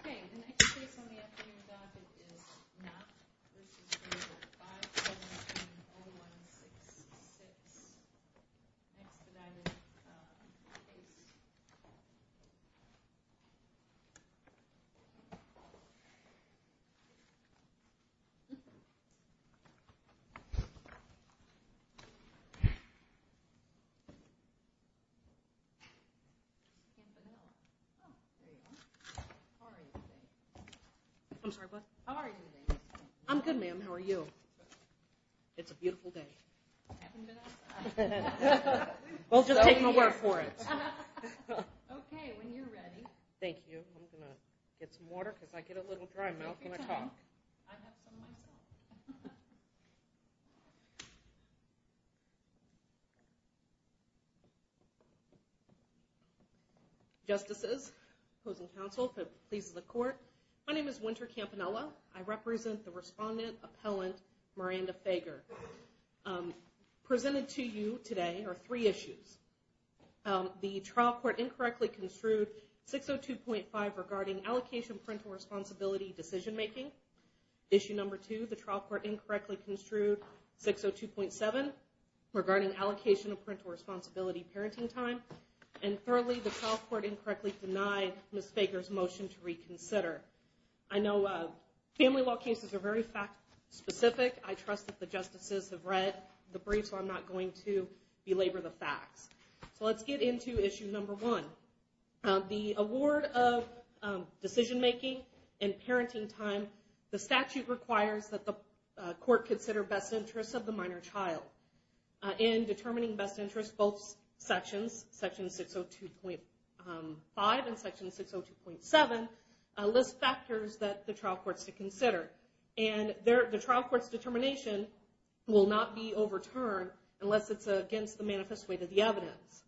Okay, the next case on the afternoon docket is Knopp v. Fager, 5-7-2-0-1-6-6. Next that I would, uh, case. I'm sorry, bud. How are you? I'm good, ma'am. How are you? It's a beautiful day. We'll just take my word for it. Okay, when you're ready. Thank you. I'm going to get some water because I get a little dry mouth when I talk. I have some myself. Justices, opposing counsel, please to the court. My name is Winter Campanella. I represent the respondent appellant Miranda Fager. Presented to you today are three issues. The trial court incorrectly construed 602.5 regarding allocation parental responsibility decision making. Issue number two, the trial court incorrectly construed 602.7 regarding allocation of parental responsibility parenting time. And thirdly, the trial court incorrectly denied Ms. Fager's motion to reconsider. I know family law cases are very fact specific. I trust that the justices have read the brief, so I'm not going to belabor the facts. So let's get into issue number one. The award of decision making and parenting time, the statute requires that the court consider best interests of the minor child. In determining best interests, both sections, section 602.5 and section 602.7, list factors that the trial court should consider. And the trial court's determination will not be overturned unless it's against the manifest way to the evidence.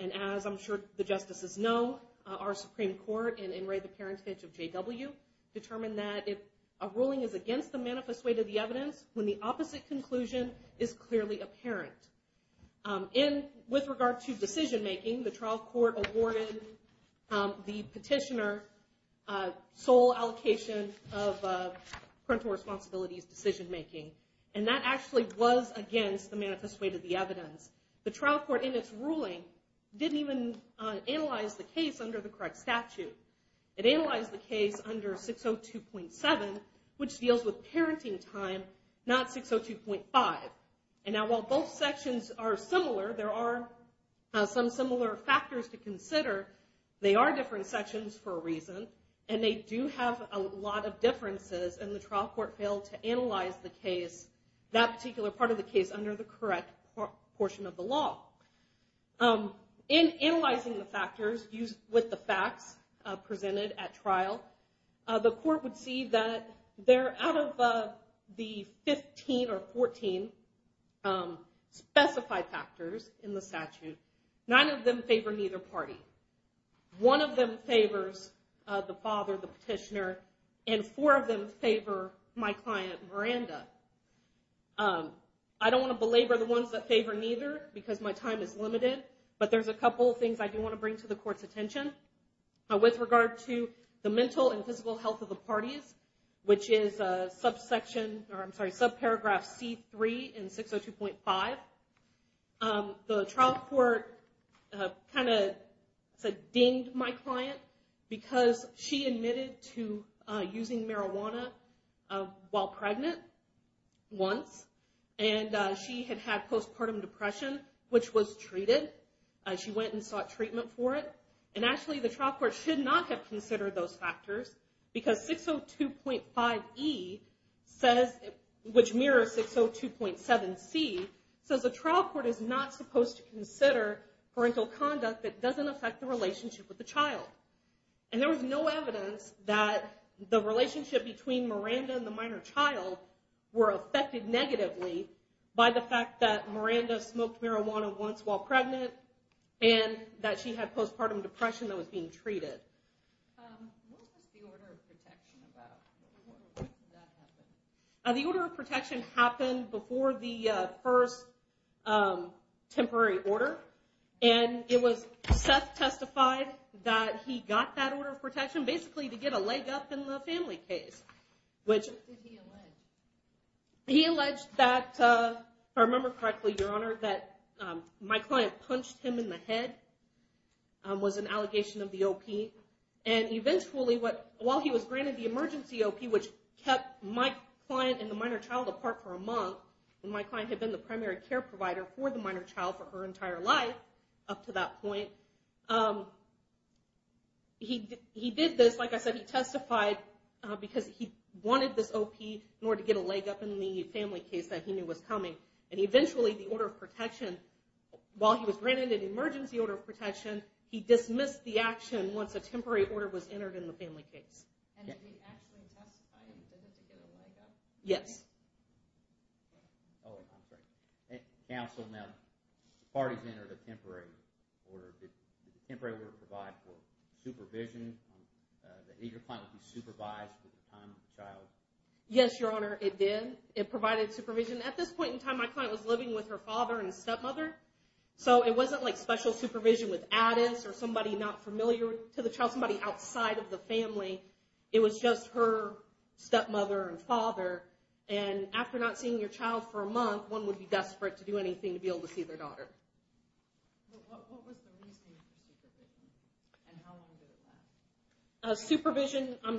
And as I'm sure the justices know, our Supreme Court in Enray the Parentage of J.W. determined that a ruling is against the manifest way to the evidence when the opposite conclusion is clearly apparent. And with regard to decision making, the trial court awarded the petitioner sole allocation of parental responsibilities decision making. And that actually was against the manifest way to the evidence. The trial court in its ruling didn't even analyze the case under the correct statute. It analyzed the case under 602.7, which deals with parenting time, not 602.5. And now while both sections are similar, there are some similar factors to consider. They are different sections for a reason, and they do have a lot of differences, and the trial court failed to analyze the case, that particular part of the case, under the correct portion of the law. In analyzing the factors with the facts presented at trial, the court would see that out of the 15 or 14 specified factors in the statute, nine of them favor neither party. One of them favors the father, the petitioner, and four of them favor my client, Miranda. I don't want to belabor the ones that favor neither because my time is limited, but there's a couple of things I do want to bring to the court's attention. With regard to the mental and physical health of the parties, which is subsection, or I'm sorry, subparagraph C3 in 602.5, the trial court kind of dinged my client because she admitted to using marijuana while pregnant once, and she had had postpartum depression, which was treated. She went and sought treatment for it, and actually the trial court should not have considered those factors because 602.5 E, which mirrors 602.7 C, says the trial court is not supposed to consider parental conduct that doesn't affect the relationship with the child. There was no evidence that the relationship between Miranda and the minor child were affected negatively by the fact that Miranda smoked marijuana once while pregnant and that she had postpartum depression that was being treated. What was the order of protection about? When did that happen? The order of protection happened before the first temporary order, and it was Seth testified that he got that order of protection basically to get a leg up in the family case. What did he allege? He alleged that, if I remember correctly, Your Honor, that my client punched him in the head was an allegation of the OP, and eventually, while he was granted the emergency OP, which kept my client and the minor child apart for a month, and my client had been the primary care provider for the minor child for her entire life up to that point, he did this, like I said, he testified because he wanted this OP in order to get a leg up in the family case that he knew was coming, and eventually, the order of protection, while he was granted an emergency order of protection, he dismissed the action once a temporary order was entered in the family case. And did he actually testify and did it to get a leg up? Yes. Counsel, now, the parties entered a temporary order. Did the temporary order provide for supervision? Did your client be supervised with the time of the child? Yes, Your Honor, it did. It provided supervision. At this point in time, my client was living with her father and stepmother, so it wasn't like special supervision with Addis or somebody not familiar to the child, somebody outside of the family. It was just her stepmother and father, and after not seeing your child for a month, one would be desperate to do anything to be able to see their daughter. What was the reason for supervision, and how long did it last? Supervision, I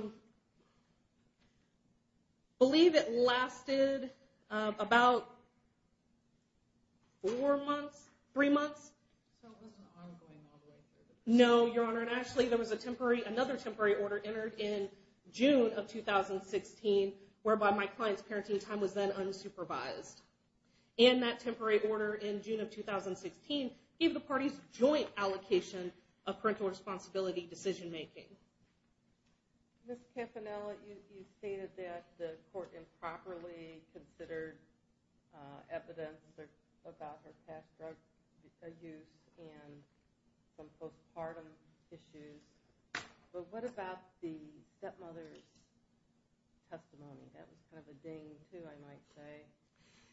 believe it lasted about four months, three months. So it wasn't ongoing all the way through? No, Your Honor, and actually, there was another temporary order entered in June of 2016, whereby my client's parenting time was then unsupervised. And that temporary order in June of 2016 gave the parties joint allocation of parental responsibility decision-making. Ms. Campanella, you stated that the court improperly considered evidence about her past drug use and some postpartum issues, but what about the stepmother's testimony? That was kind of a ding, too, I might say.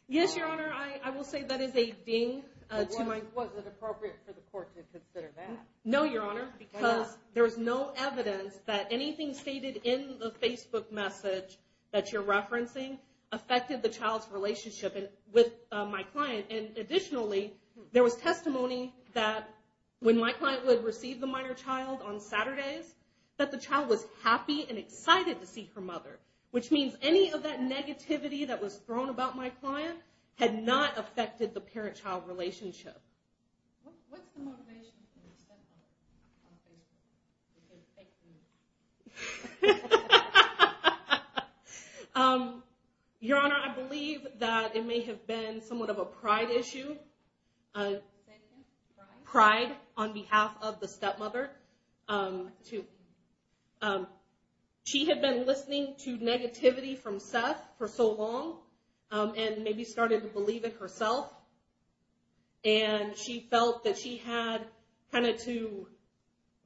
Yes, Your Honor, I will say that is a ding. Was it appropriate for the court to consider that? No, Your Honor, because there was no evidence that anything stated in the Facebook message that you're referencing affected the child's relationship with my client. And additionally, there was testimony that when my client would receive the minor child on Saturdays, that the child was happy and excited to see her mother, which means any of that negativity that was thrown about my client had not affected the parent-child relationship. What's the motivation for the stepmother on Facebook? Your Honor, I believe that it may have been somewhat of a pride issue. Say it again? Pride? Pride on behalf of the stepmother. She had been listening to negativity from Seth for so long and maybe started to believe in herself, and she felt that she had kind of to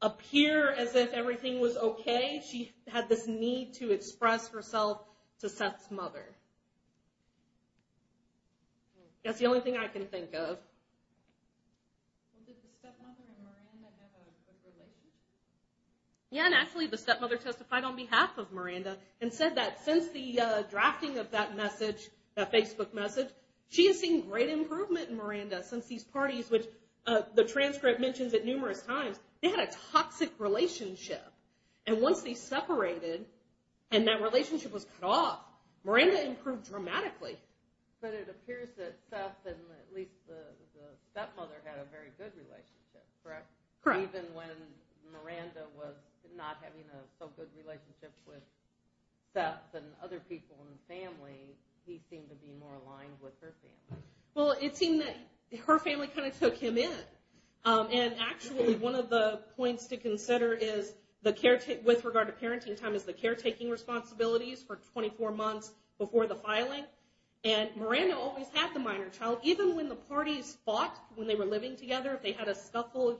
appear as if everything was okay. She had this need to express herself to Seth's mother. That's the only thing I can think of. Well, did the stepmother and Miranda have a good relationship? Yeah, and actually the stepmother testified on behalf of Miranda and said that since the drafting of that message, that Facebook message, she has seen great improvement in Miranda since these parties, which the transcript mentions it numerous times, they had a toxic relationship. And once they separated and that relationship was cut off, Miranda improved dramatically. But it appears that Seth and at least the stepmother had a very good relationship, correct? Correct. Even when Miranda was not having a so good relationship with Seth and other people in the family, he seemed to be more aligned with her family. Well, it seemed that her family kind of took him in. And actually one of the points to consider with regard to parenting time is the caretaking responsibilities for 24 months before the filing. And Miranda always had the minor child. Even when the parties fought when they were living together, if they had a scuffle,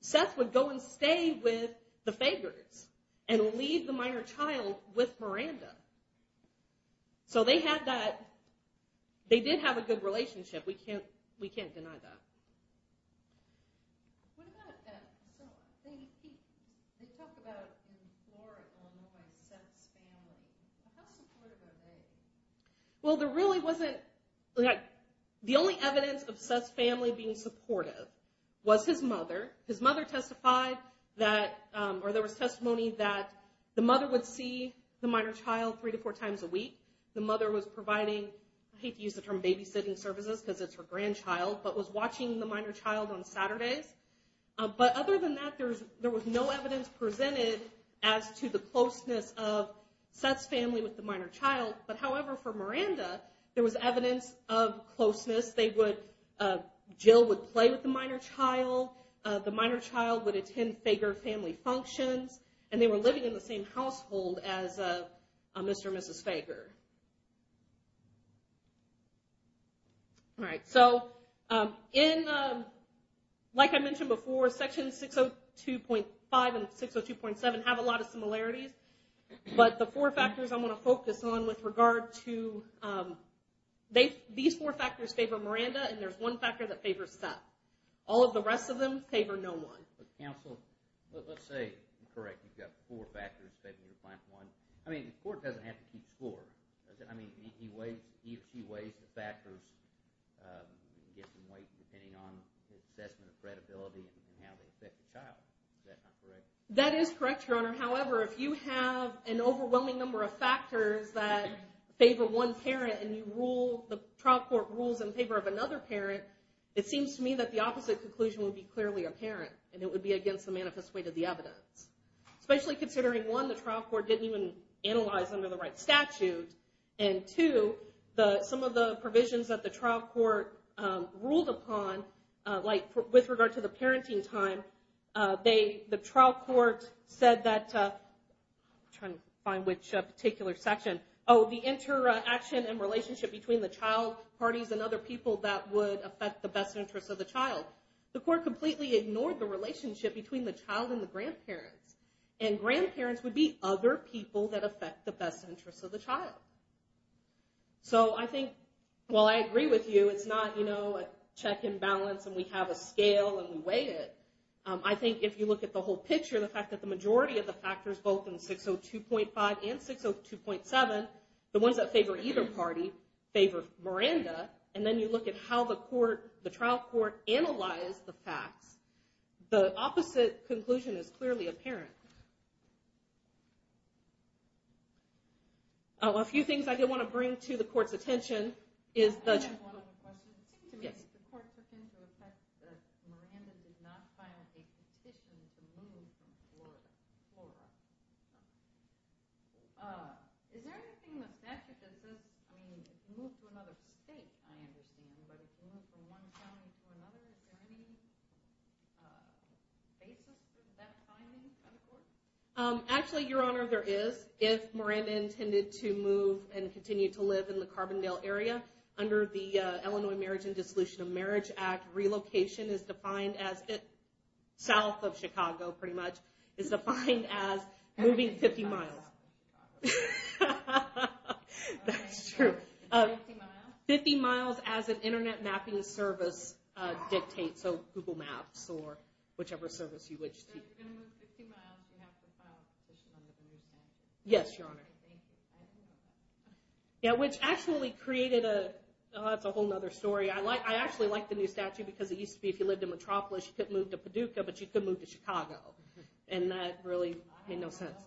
Seth would go and stay with the Fagers and leave the minor child with Miranda. So they had that, they did have a good relationship. We can't deny that. What about, so they talk about in Florida, Illinois, Seth's family. How supportive are they? Well, there really wasn't, the only evidence of Seth's family being supportive was his mother. His mother testified that, or there was testimony that the mother would see the minor child three to four times a week. The mother was providing, I hate to use the term babysitting services because it's her grandchild, but was watching the minor child on Saturdays. But other than that, there was no evidence presented as to the closeness of Seth's family with the minor child. But however, for Miranda, there was evidence of closeness. They would, Jill would play with the minor child. The minor child would attend Fager family functions. And they were living in the same household as Mr. and Mrs. Fager. All right, so in, like I mentioned before, section 602.5 and 602.7 have a lot of similarities. But the four factors I want to focus on with regard to, these four factors favor Miranda, and there's one factor that favors Seth. All of the rest of them favor no one. Counsel, let's say, correct, you've got four factors favoring your plan for one. I mean, the court doesn't have to keep score, does it? I mean, he weighs, he or she weighs the factors, gives them weight, depending on the assessment of credibility and how they affect the child. Is that not correct? That is correct, Your Honor. However, if you have an overwhelming number of factors that favor one parent and you rule, the trial court rules in favor of another parent, it seems to me that the opposite conclusion would be clearly apparent, and it would be against the manifest weight of the evidence. Especially considering, one, the trial court didn't even analyze under the right statute, and two, some of the provisions that the trial court ruled upon, like with regard to the parenting time, the trial court said that, I'm trying to find which particular section, oh, the interaction and relationship between the child parties and other people that would affect the best interest of the child. The court completely ignored the relationship between the child and the grandparents, and grandparents would be other people that affect the best interest of the child. So I think, while I agree with you, it's not, you know, a check and balance and we have a scale and we weigh it. I think if you look at the whole picture, the fact that the majority of the factors, both in 602.5 and 602.7, the ones that favor either party favor Miranda, and then you look at how the trial court analyzed the facts, the opposite conclusion is clearly apparent. A few things I did want to bring to the court's attention is the... I understand, but if you move from one county to another, is there any basis for that finding on the court? Actually, Your Honor, there is. If Miranda intended to move and continue to live in the Carbondale area, under the Illinois Marriage and Dissolution of Marriage Act, relocation is defined as, south of Chicago, pretty much, is defined as moving 50 miles. That's true. 50 miles as an internet mapping service dictates, so Google Maps or whichever service you wish to use. So if you're going to move 50 miles, you have to file a petition under the new statute? Yes, Your Honor. Thank you. I didn't know that. Yeah, which actually created a... Oh, that's a whole other story. I actually like the new statute because it used to be if you lived in Metropolis, you couldn't move to Paducah, but you could move to Chicago, and that really made no sense.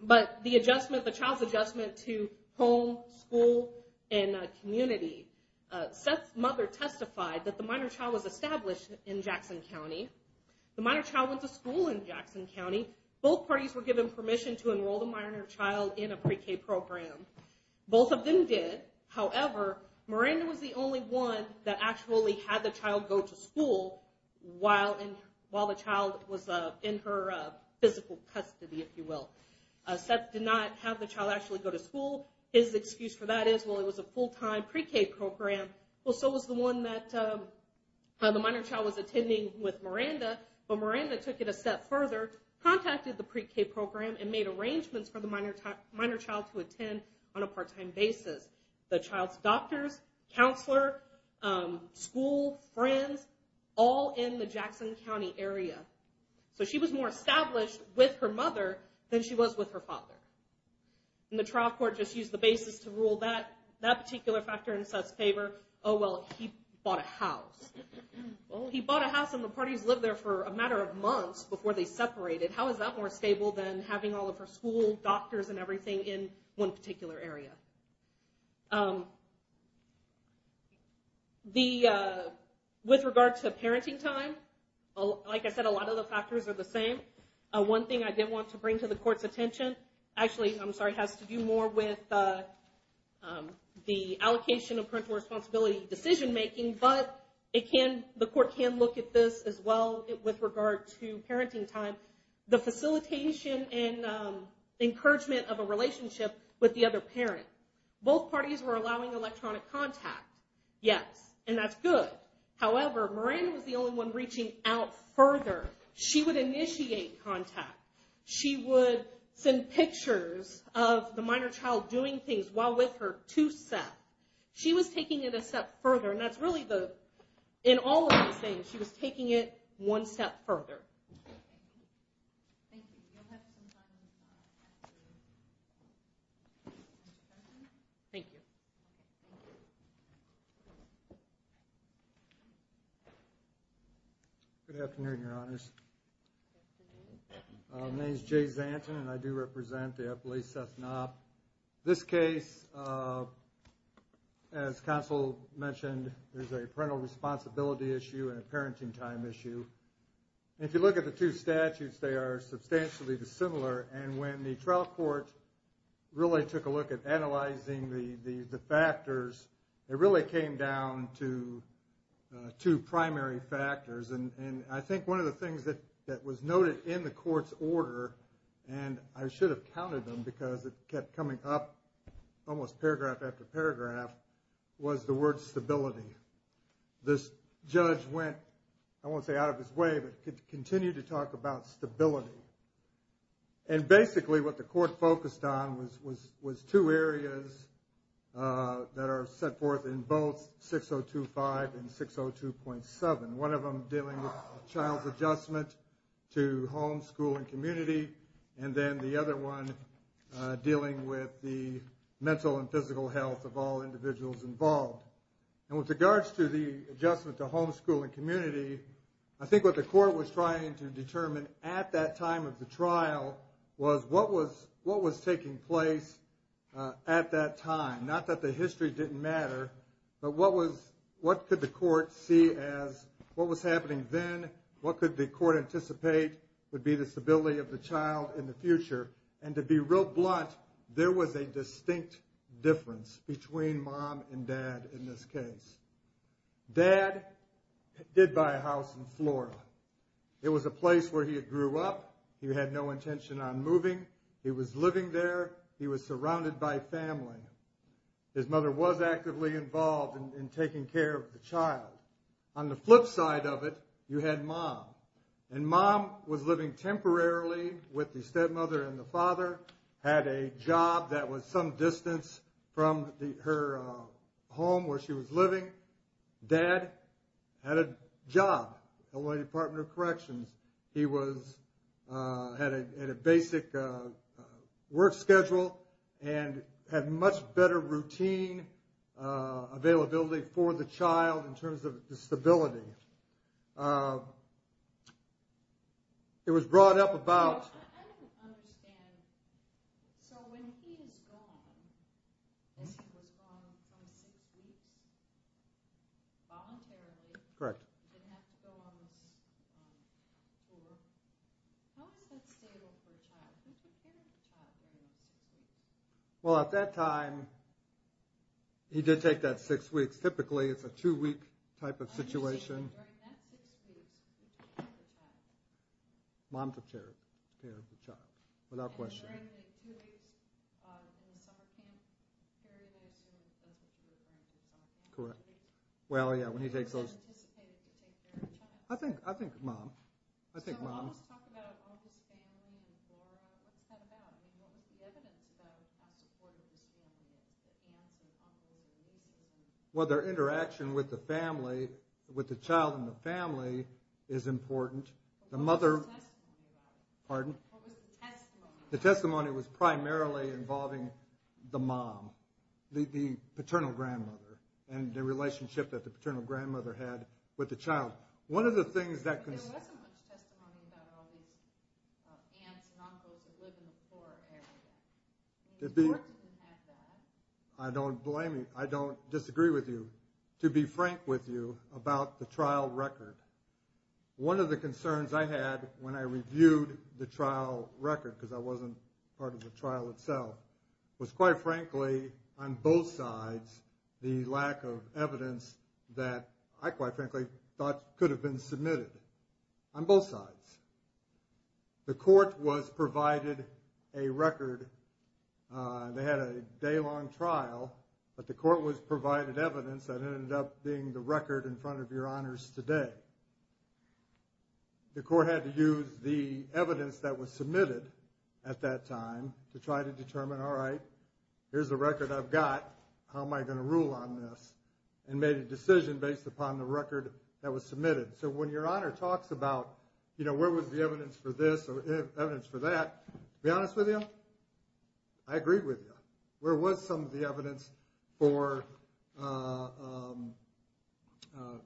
But the adjustment, the child's adjustment to home, school, and community. Seth's mother testified that the minor child was established in Jackson County. The minor child went to school in Jackson County. Both parties were given permission to enroll the minor child in a pre-K program. Both of them did. However, Miranda was the only one that actually had the child go to school while the child was in her physical custody, if you will. Seth did not have the child actually go to school. His excuse for that is, well, it was a full-time pre-K program. Well, so was the one that the minor child was attending with Miranda, but Miranda took it a step further, contacted the pre-K program, and made arrangements for the minor child to attend on a part-time basis. The child's doctors, counselor, school, friends, all in the Jackson County area. So she was more established with her mother than she was with her father. And the trial court just used the basis to rule that particular factor in Seth's favor. Oh, well, he bought a house. He bought a house, and the parties lived there for a matter of months before they separated. in one particular area. With regard to parenting time, like I said, a lot of the factors are the same. One thing I did want to bring to the court's attention, actually, I'm sorry, has to do more with the allocation of parental responsibility decision-making, but the court can look at this as well with regard to parenting time. The facilitation and encouragement of a relationship with the other parent. Both parties were allowing electronic contact, yes, and that's good. However, Miranda was the only one reaching out further. She would initiate contact. She would send pictures of the minor child doing things while with her to Seth. She was taking it a step further, and that's really the, in all of those things, she was taking it one step further. Thank you. Thank you. You'll have some time to answer questions. Thank you. Good afternoon, Your Honors. My name's Jay Zanton, and I do represent the FLA Seth Knopp. This case, as counsel mentioned, there's a parental responsibility issue and a parenting time issue. If you look at the two statutes, they are substantially dissimilar, and when the trial court really took a look at analyzing the factors, it really came down to two primary factors. And I think one of the things that was noted in the court's order, and I should have counted them because it kept coming up almost paragraph after paragraph, was the word stability. This judge went, I won't say out of his way, but continued to talk about stability. And basically what the court focused on was two areas that are set forth in both 6025 and 602.7, one of them dealing with child's adjustment to home, school, and community, and then the other one dealing with the mental and physical health of all individuals involved. And with regards to the adjustment to home, school, and community, I think what the court was trying to determine at that time of the trial was what was taking place at that time, not that the history didn't matter, but what could the court see as what was happening then, what could the court anticipate would be the stability of the child in the future. And to be real blunt, there was a distinct difference between mom and dad in this case. Dad did buy a house in Flora. It was a place where he had grew up. He had no intention on moving. He was living there. He was surrounded by family. His mother was actively involved in taking care of the child. On the flip side of it, you had mom. And mom was living temporarily with the stepmother and the father, had a job that was some distance from her home where she was living. Dad had a job at Illinois Department of Corrections. He had a basic work schedule and had much better routine availability for the child in terms of stability. It was brought up about. I don't understand. So when he is gone, he was gone for six weeks voluntarily. Correct. He didn't have to go on this tour. How is that stable for a child? Who took care of the child during those six weeks? Well, at that time, he did take that six weeks. Typically, it's a two-week type of situation. During that six weeks, who took care of the child? Mom took care of the child. Without question. During the two weeks in the summer camp period, I assume it was the two of them. Correct. Well, yeah, when he takes those. Who is anticipated to take care of the child? I think mom. I'll just talk about all this family and Dora. What's that about? What was the evidence about how supportive this family is? The aunts and uncles and nieces. Well, their interaction with the family, with the child and the family, is important. What was the testimony about? Pardon? What was the testimony? The testimony was primarily involving the mom, the paternal grandmother, and the relationship that the paternal grandmother had with the child. There wasn't much testimony about all these aunts and uncles that live in the poor area. It's important to have that. I don't disagree with you, to be frank with you, about the trial record. One of the concerns I had when I reviewed the trial record, because I wasn't part of the trial itself, was, quite frankly, on both sides, the lack of evidence that I, quite frankly, thought could have been submitted on both sides. The court was provided a record. They had a day-long trial, but the court was provided evidence that ended up being the record in front of your honors today. The court had to use the evidence that was submitted at that time to try to determine, all right, here's the record I've got. How am I going to rule on this? And made a decision based upon the record that was submitted. So when your honor talks about, you know, where was the evidence for this or evidence for that, to be honest with you, I agree with you. Where was some of the evidence for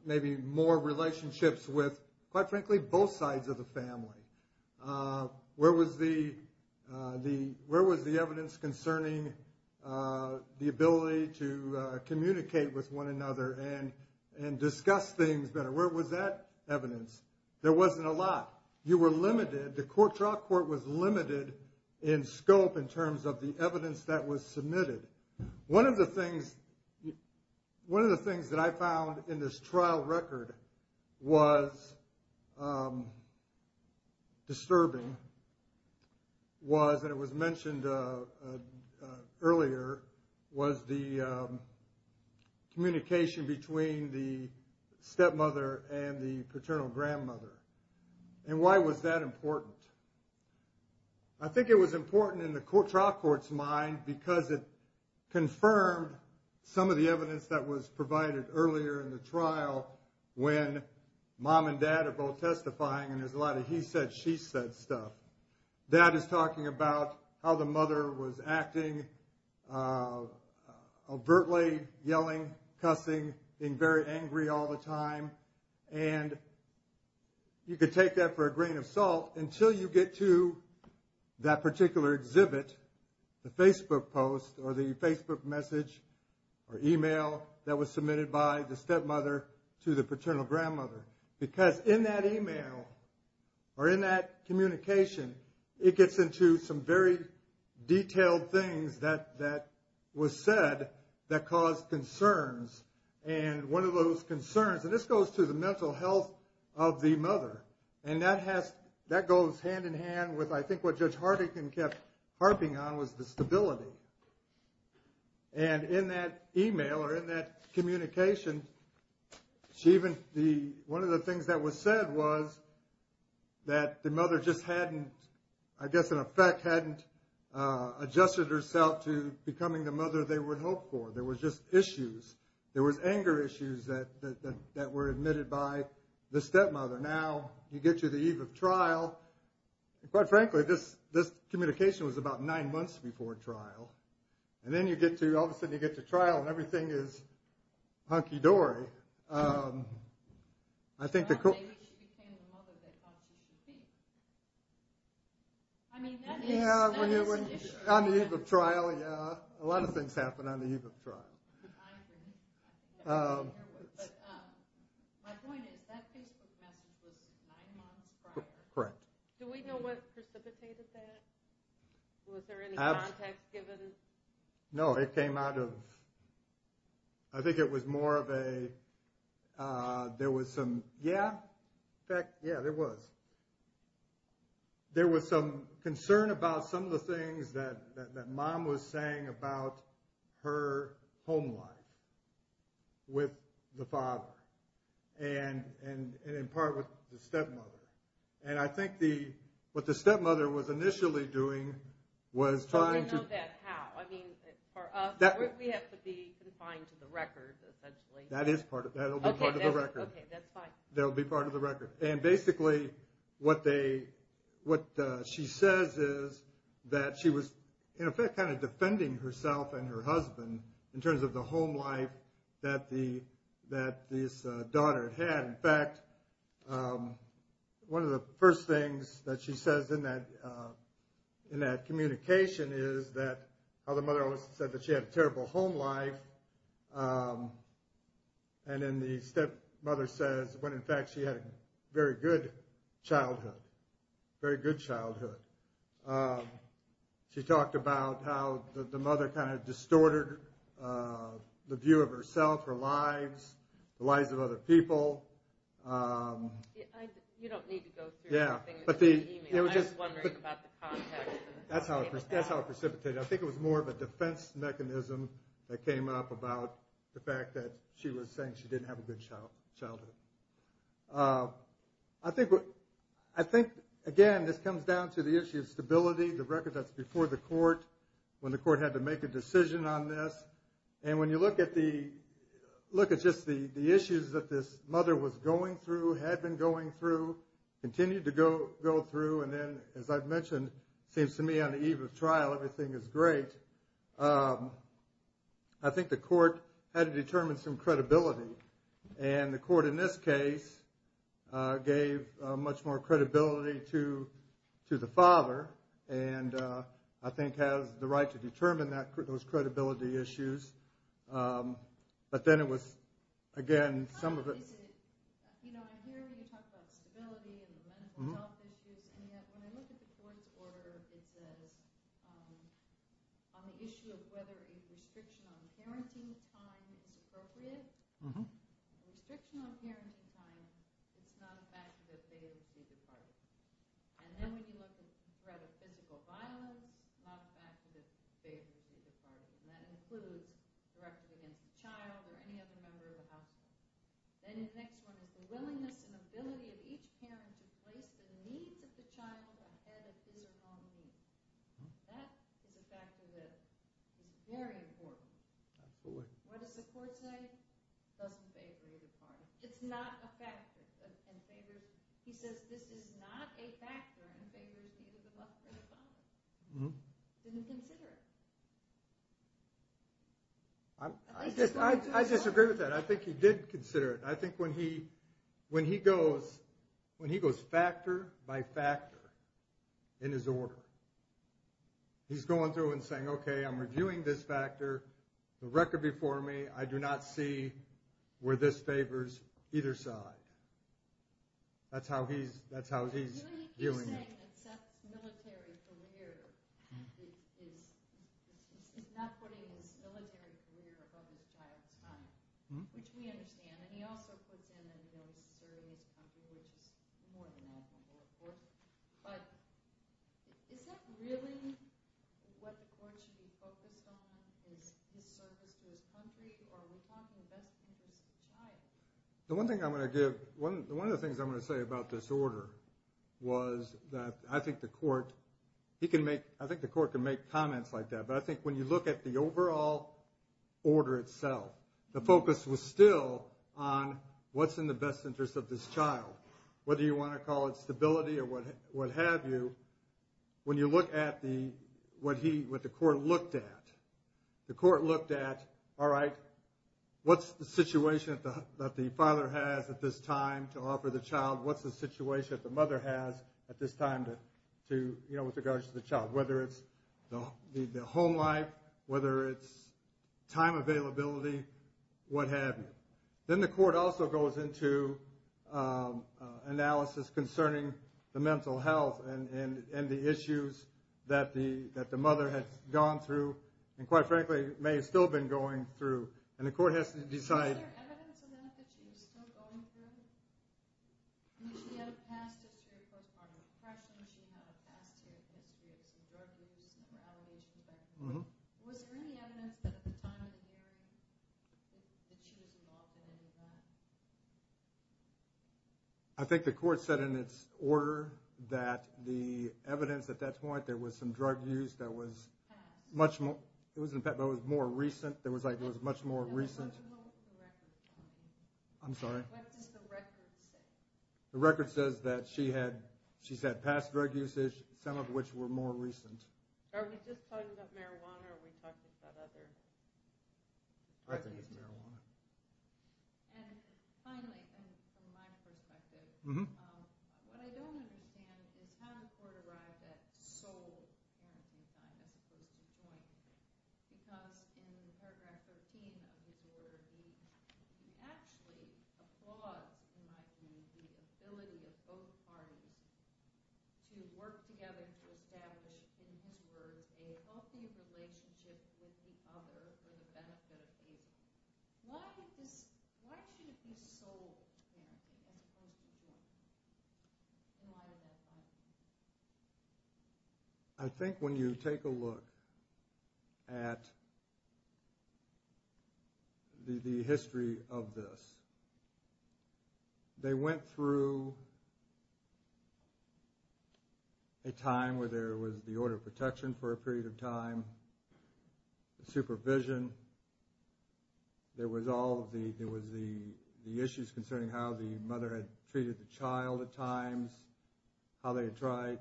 maybe more relationships with, quite frankly, both sides of the family? Where was the evidence concerning the ability to communicate with one another and discuss things better? Where was that evidence? There wasn't a lot. You were limited. The trial court was limited in scope in terms of the evidence that was submitted. One of the things that I found in this trial record was disturbing, was that it was mentioned earlier, was the communication between the stepmother and the paternal grandmother. And why was that important? I think it was important in the trial court's mind because it confirmed some of the evidence that was provided earlier in the trial when mom and dad are both testifying and there's a lot of he said, she said stuff. Dad is talking about how the mother was acting, overtly yelling, cussing, being very angry all the time. And you could take that for a grain of salt until you get to that particular exhibit, the Facebook post or the Facebook message or email that was submitted by the stepmother to the paternal grandmother. Because in that email or in that communication, it gets into some very detailed things that was said that caused concerns. And one of those concerns, and this goes to the mental health of the mother, and that goes hand in hand with I think what Judge Hartigan kept harping on was the stability. And in that email or in that communication, one of the things that was said was that the mother just hadn't, I guess in effect hadn't adjusted herself to becoming the mother they would hope for. There was just issues. There was anger issues that were admitted by the stepmother. Now you get to the eve of trial, and quite frankly this communication was about nine months before trial. And then you get to, all of a sudden you get to trial and everything is hunky-dory. I think the... Maybe she became the mother they thought she should be. I mean, that is an issue. On the eve of trial, yeah. A lot of things happen on the eve of trial. My point is that Facebook message was nine months prior. Correct. Do we know what precipitated that? Was there any context given? No, it came out of... I think it was more of a... There was some... Yeah. In fact, yeah, there was. There was some concern about some of the things that mom was saying about her home life with the father, and in part with the stepmother. And I think what the stepmother was initially doing was trying to... How? I mean, for us, we have to be confined to the record, essentially. That is part of it. That will be part of the record. Okay, that's fine. That will be part of the record. And basically, what she says is that she was, in effect, kind of defending herself and her husband in terms of the home life that this daughter had. In fact, one of the first things that she says in that communication is that how the mother always said that she had a terrible home life, and then the stepmother says, when in fact she had a very good childhood. Very good childhood. She talked about how the mother kind of distorted the view of herself, her lives, the lives of other people. You don't need to go through everything in the email. I was wondering about the context. That's how it precipitated. I think it was more of a defense mechanism that came up about the fact that she was saying she didn't have a good childhood. I think, again, this comes down to the issue of stability, the record that's before the court, when the court had to make a decision on this. And when you look at just the issues that this mother was going through, had been going through, continued to go through, and then, as I've mentioned, it seems to me on the eve of trial everything is great. I think the court had to determine some credibility, and the court in this case gave much more credibility to the father and I think has the right to determine those credibility issues. But then it was, again, some of it... I hear you talk about stability and the mental health issues, and yet when I look at the court's order, it says on the issue of whether a restriction on parenting time is appropriate, restriction on parenting time, it's not a fact that they would be departed. And then when you look at the threat of physical violence, not a fact that they would be departed, and that includes directives against the child or any other member of the household. Then the next one is the willingness and ability of each parent to place the needs of the child ahead of his or her own needs. That is a factor that is very important. What does the court say? It doesn't favor either party. It's not a factor. He says this is not a factor in favoring either the mother or the father. He didn't consider it. I disagree with that. I think he did consider it. I think when he goes factor by factor in his order, he's going through and saying, okay, I'm reviewing this factor, the record before me, I do not see where this favors either side. That's how he's viewing it. I do think he's saying that Seth's military career is not putting his military career above his child's time, which we understand. And he also puts in that he doesn't serve his country, which is more than I think is important. But is that really what the court should be focused on, is his service to his country, or are we talking best interest of child? One of the things I'm going to say about this order was that I think the court can make comments like that, but I think when you look at the overall order itself, the focus was still on what's in the best interest of this child, whether you want to call it stability or what have you. When you look at what the court looked at, the court looked at, all right, what's the situation that the father has at this time to offer the child, what's the situation that the mother has at this time with regards to the child, whether it's the home life, whether it's time availability, what have you. Then the court also goes into analysis concerning the mental health and the issues that the mother has gone through and quite frankly may have still been going through. And the court has to decide... I think the court said in its order that the evidence at that point, there was some drug use that was more recent. There was much more recent... The record says that she's had past drug usage, some of which were more recent. I think it's marijuana. In paragraph 13 of his order, he actually applauds, in my view, the ability of both parties to work together to establish, in his words, a healthy relationship with the other for the benefit of the other. Why should it be sold to him as opposed to him? And why does that matter? I think when you take a look at the history of this, they went through a time where there was the order of protection for a period of time, supervision. There was the issues concerning how the mother had treated the child at times, how they had tried,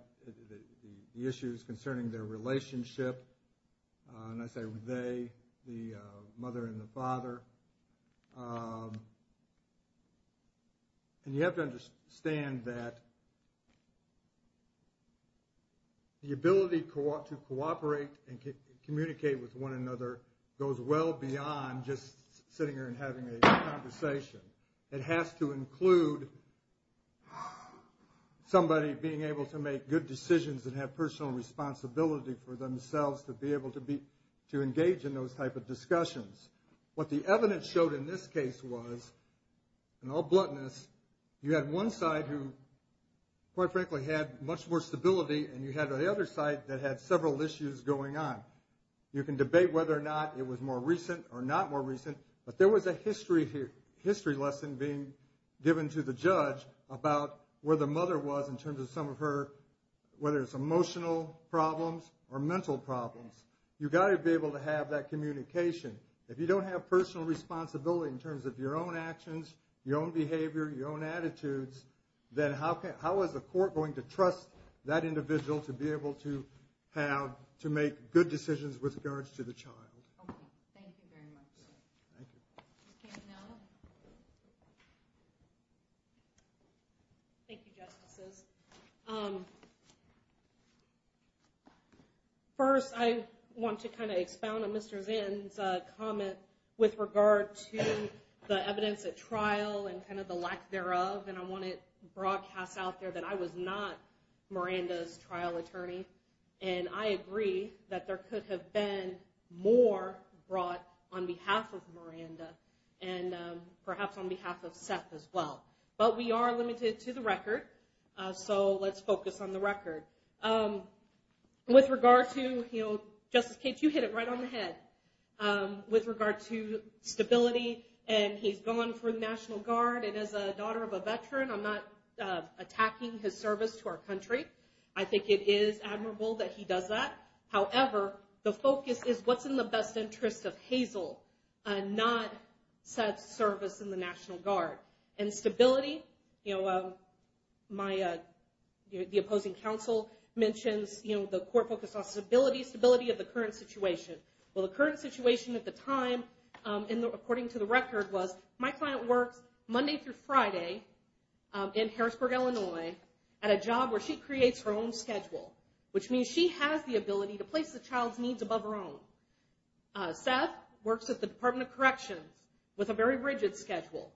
the issues concerning their relationship. And I say they, the mother and the father. And you have to understand that the ability to cooperate and communicate with one another goes well beyond just sitting here and having a conversation. It has to include somebody being able to make good decisions and have personal responsibility for themselves to be able to engage in those type of discussions. What the evidence showed in this case was, in all bluntness, you had one side who, quite frankly, had much more stability, and you had the other side that had several issues going on. You can debate whether or not it was more recent or not more recent, but there was a history lesson being given to the judge about where the mother was in terms of some of her, whether it's emotional problems or mental problems. You've got to be able to have that communication. If you don't have personal responsibility in terms of your own actions, your own behavior, your own attitudes, then how is the court going to trust that individual to be able to have, to make good decisions with regards to the child? Okay, thank you very much. Thank you. Thank you, Justices. First, I want to kind of expound on Mr. Zinn's comment with regard to the evidence at trial and kind of the lack thereof, and I want to broadcast out there that I was not Miranda's trial attorney, and I agree that there could have been more brought on behalf of Miranda and perhaps on behalf of Seth as well, but we are limited to the record, so let's focus on the record. With regard to, you know, Justice Cates, you hit it right on the head. With regard to stability, and he's gone for the National Guard, and as a daughter of a veteran, I'm not attacking his service to our country. I think it is admirable that he does that. However, the focus is what's in the best interest of Hazel, not Seth's service in the National Guard. And stability, you know, the opposing counsel mentions, you know, the court focused on stability, stability of the current situation. Well, the current situation at the time, according to the record, was my client works Monday through Friday in Harrisburg, Illinois, at a job where she creates her own schedule, which means she has the ability to place the child's needs above her own. Seth works at the Department of Corrections with a very rigid schedule.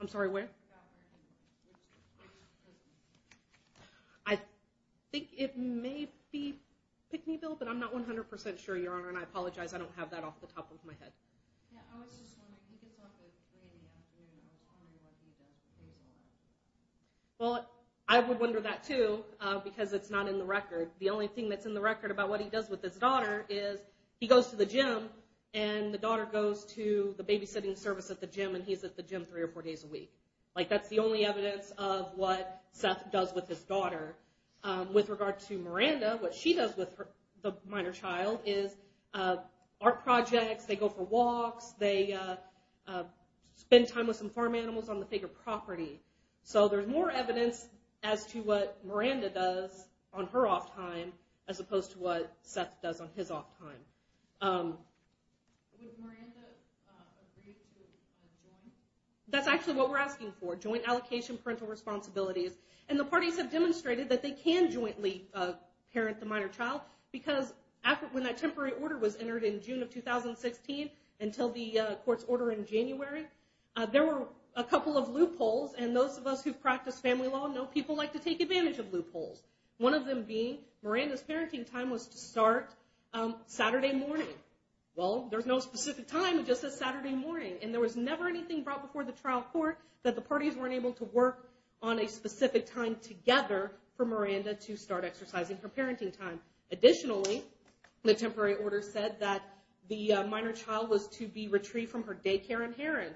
I'm sorry, where? I think it may be Pickneyville, but I'm not 100% sure, Your Honor, and I apologize, I don't have that off the top of my head. Yeah, I was just wondering, he gets off at three in the afternoon, and I was wondering what he does for Hazel. Well, I would wonder that too, because it's not in the record. The only thing that's in the record about what he does with his daughter is he goes to the gym, and the daughter goes to the babysitting service at the gym, and he's at the gym three or four days a week. Like, that's the only evidence of what Seth does with his daughter. With regard to Miranda, what she does with the minor child is art projects, they go for walks, they spend time with some farm animals on the bigger property. So there's more evidence as to what Miranda does on her off time, as opposed to what Seth does on his off time. That's actually what we're asking for, joint allocation, parental responsibilities. And the parties have demonstrated that they can jointly parent the minor child, because when that temporary order was entered in June of 2016 until the court's order in January, there were a couple of loopholes, and those of us who've practiced family law know people like to take advantage of loopholes, one of them being Miranda's parenting time was to start Saturday morning. Well, there's no specific time, it just says Saturday morning, and there was never anything brought before the trial court that the parties weren't able to work on a specific time together for Miranda to start exercising her parenting time. Additionally, the temporary order said that the minor child was to be retrieved from her daycare in Heron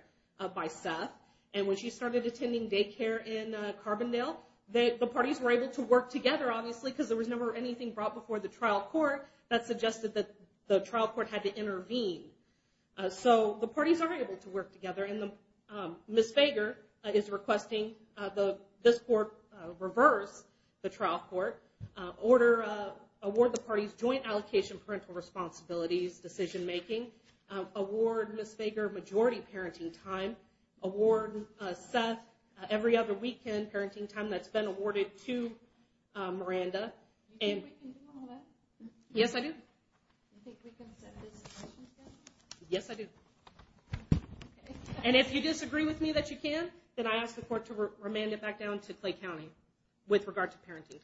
by Seth, and when she started attending daycare in Carbondale, the parties were able to work together, obviously, because there was never anything brought before the trial court that suggested that the trial court had to intervene. So the parties aren't able to work together, and Ms. Fager is requesting this court reverse the trial court, award the parties joint allocation parental responsibilities, decision making, award Ms. Fager majority parenting time, award Seth every other weekend parenting time that's been awarded to Miranda. Yes, I do. Yes, I do. And if you disagree with me that you can, then I ask the court to remand it back down to Clay County with regard to parenting time. Thank you.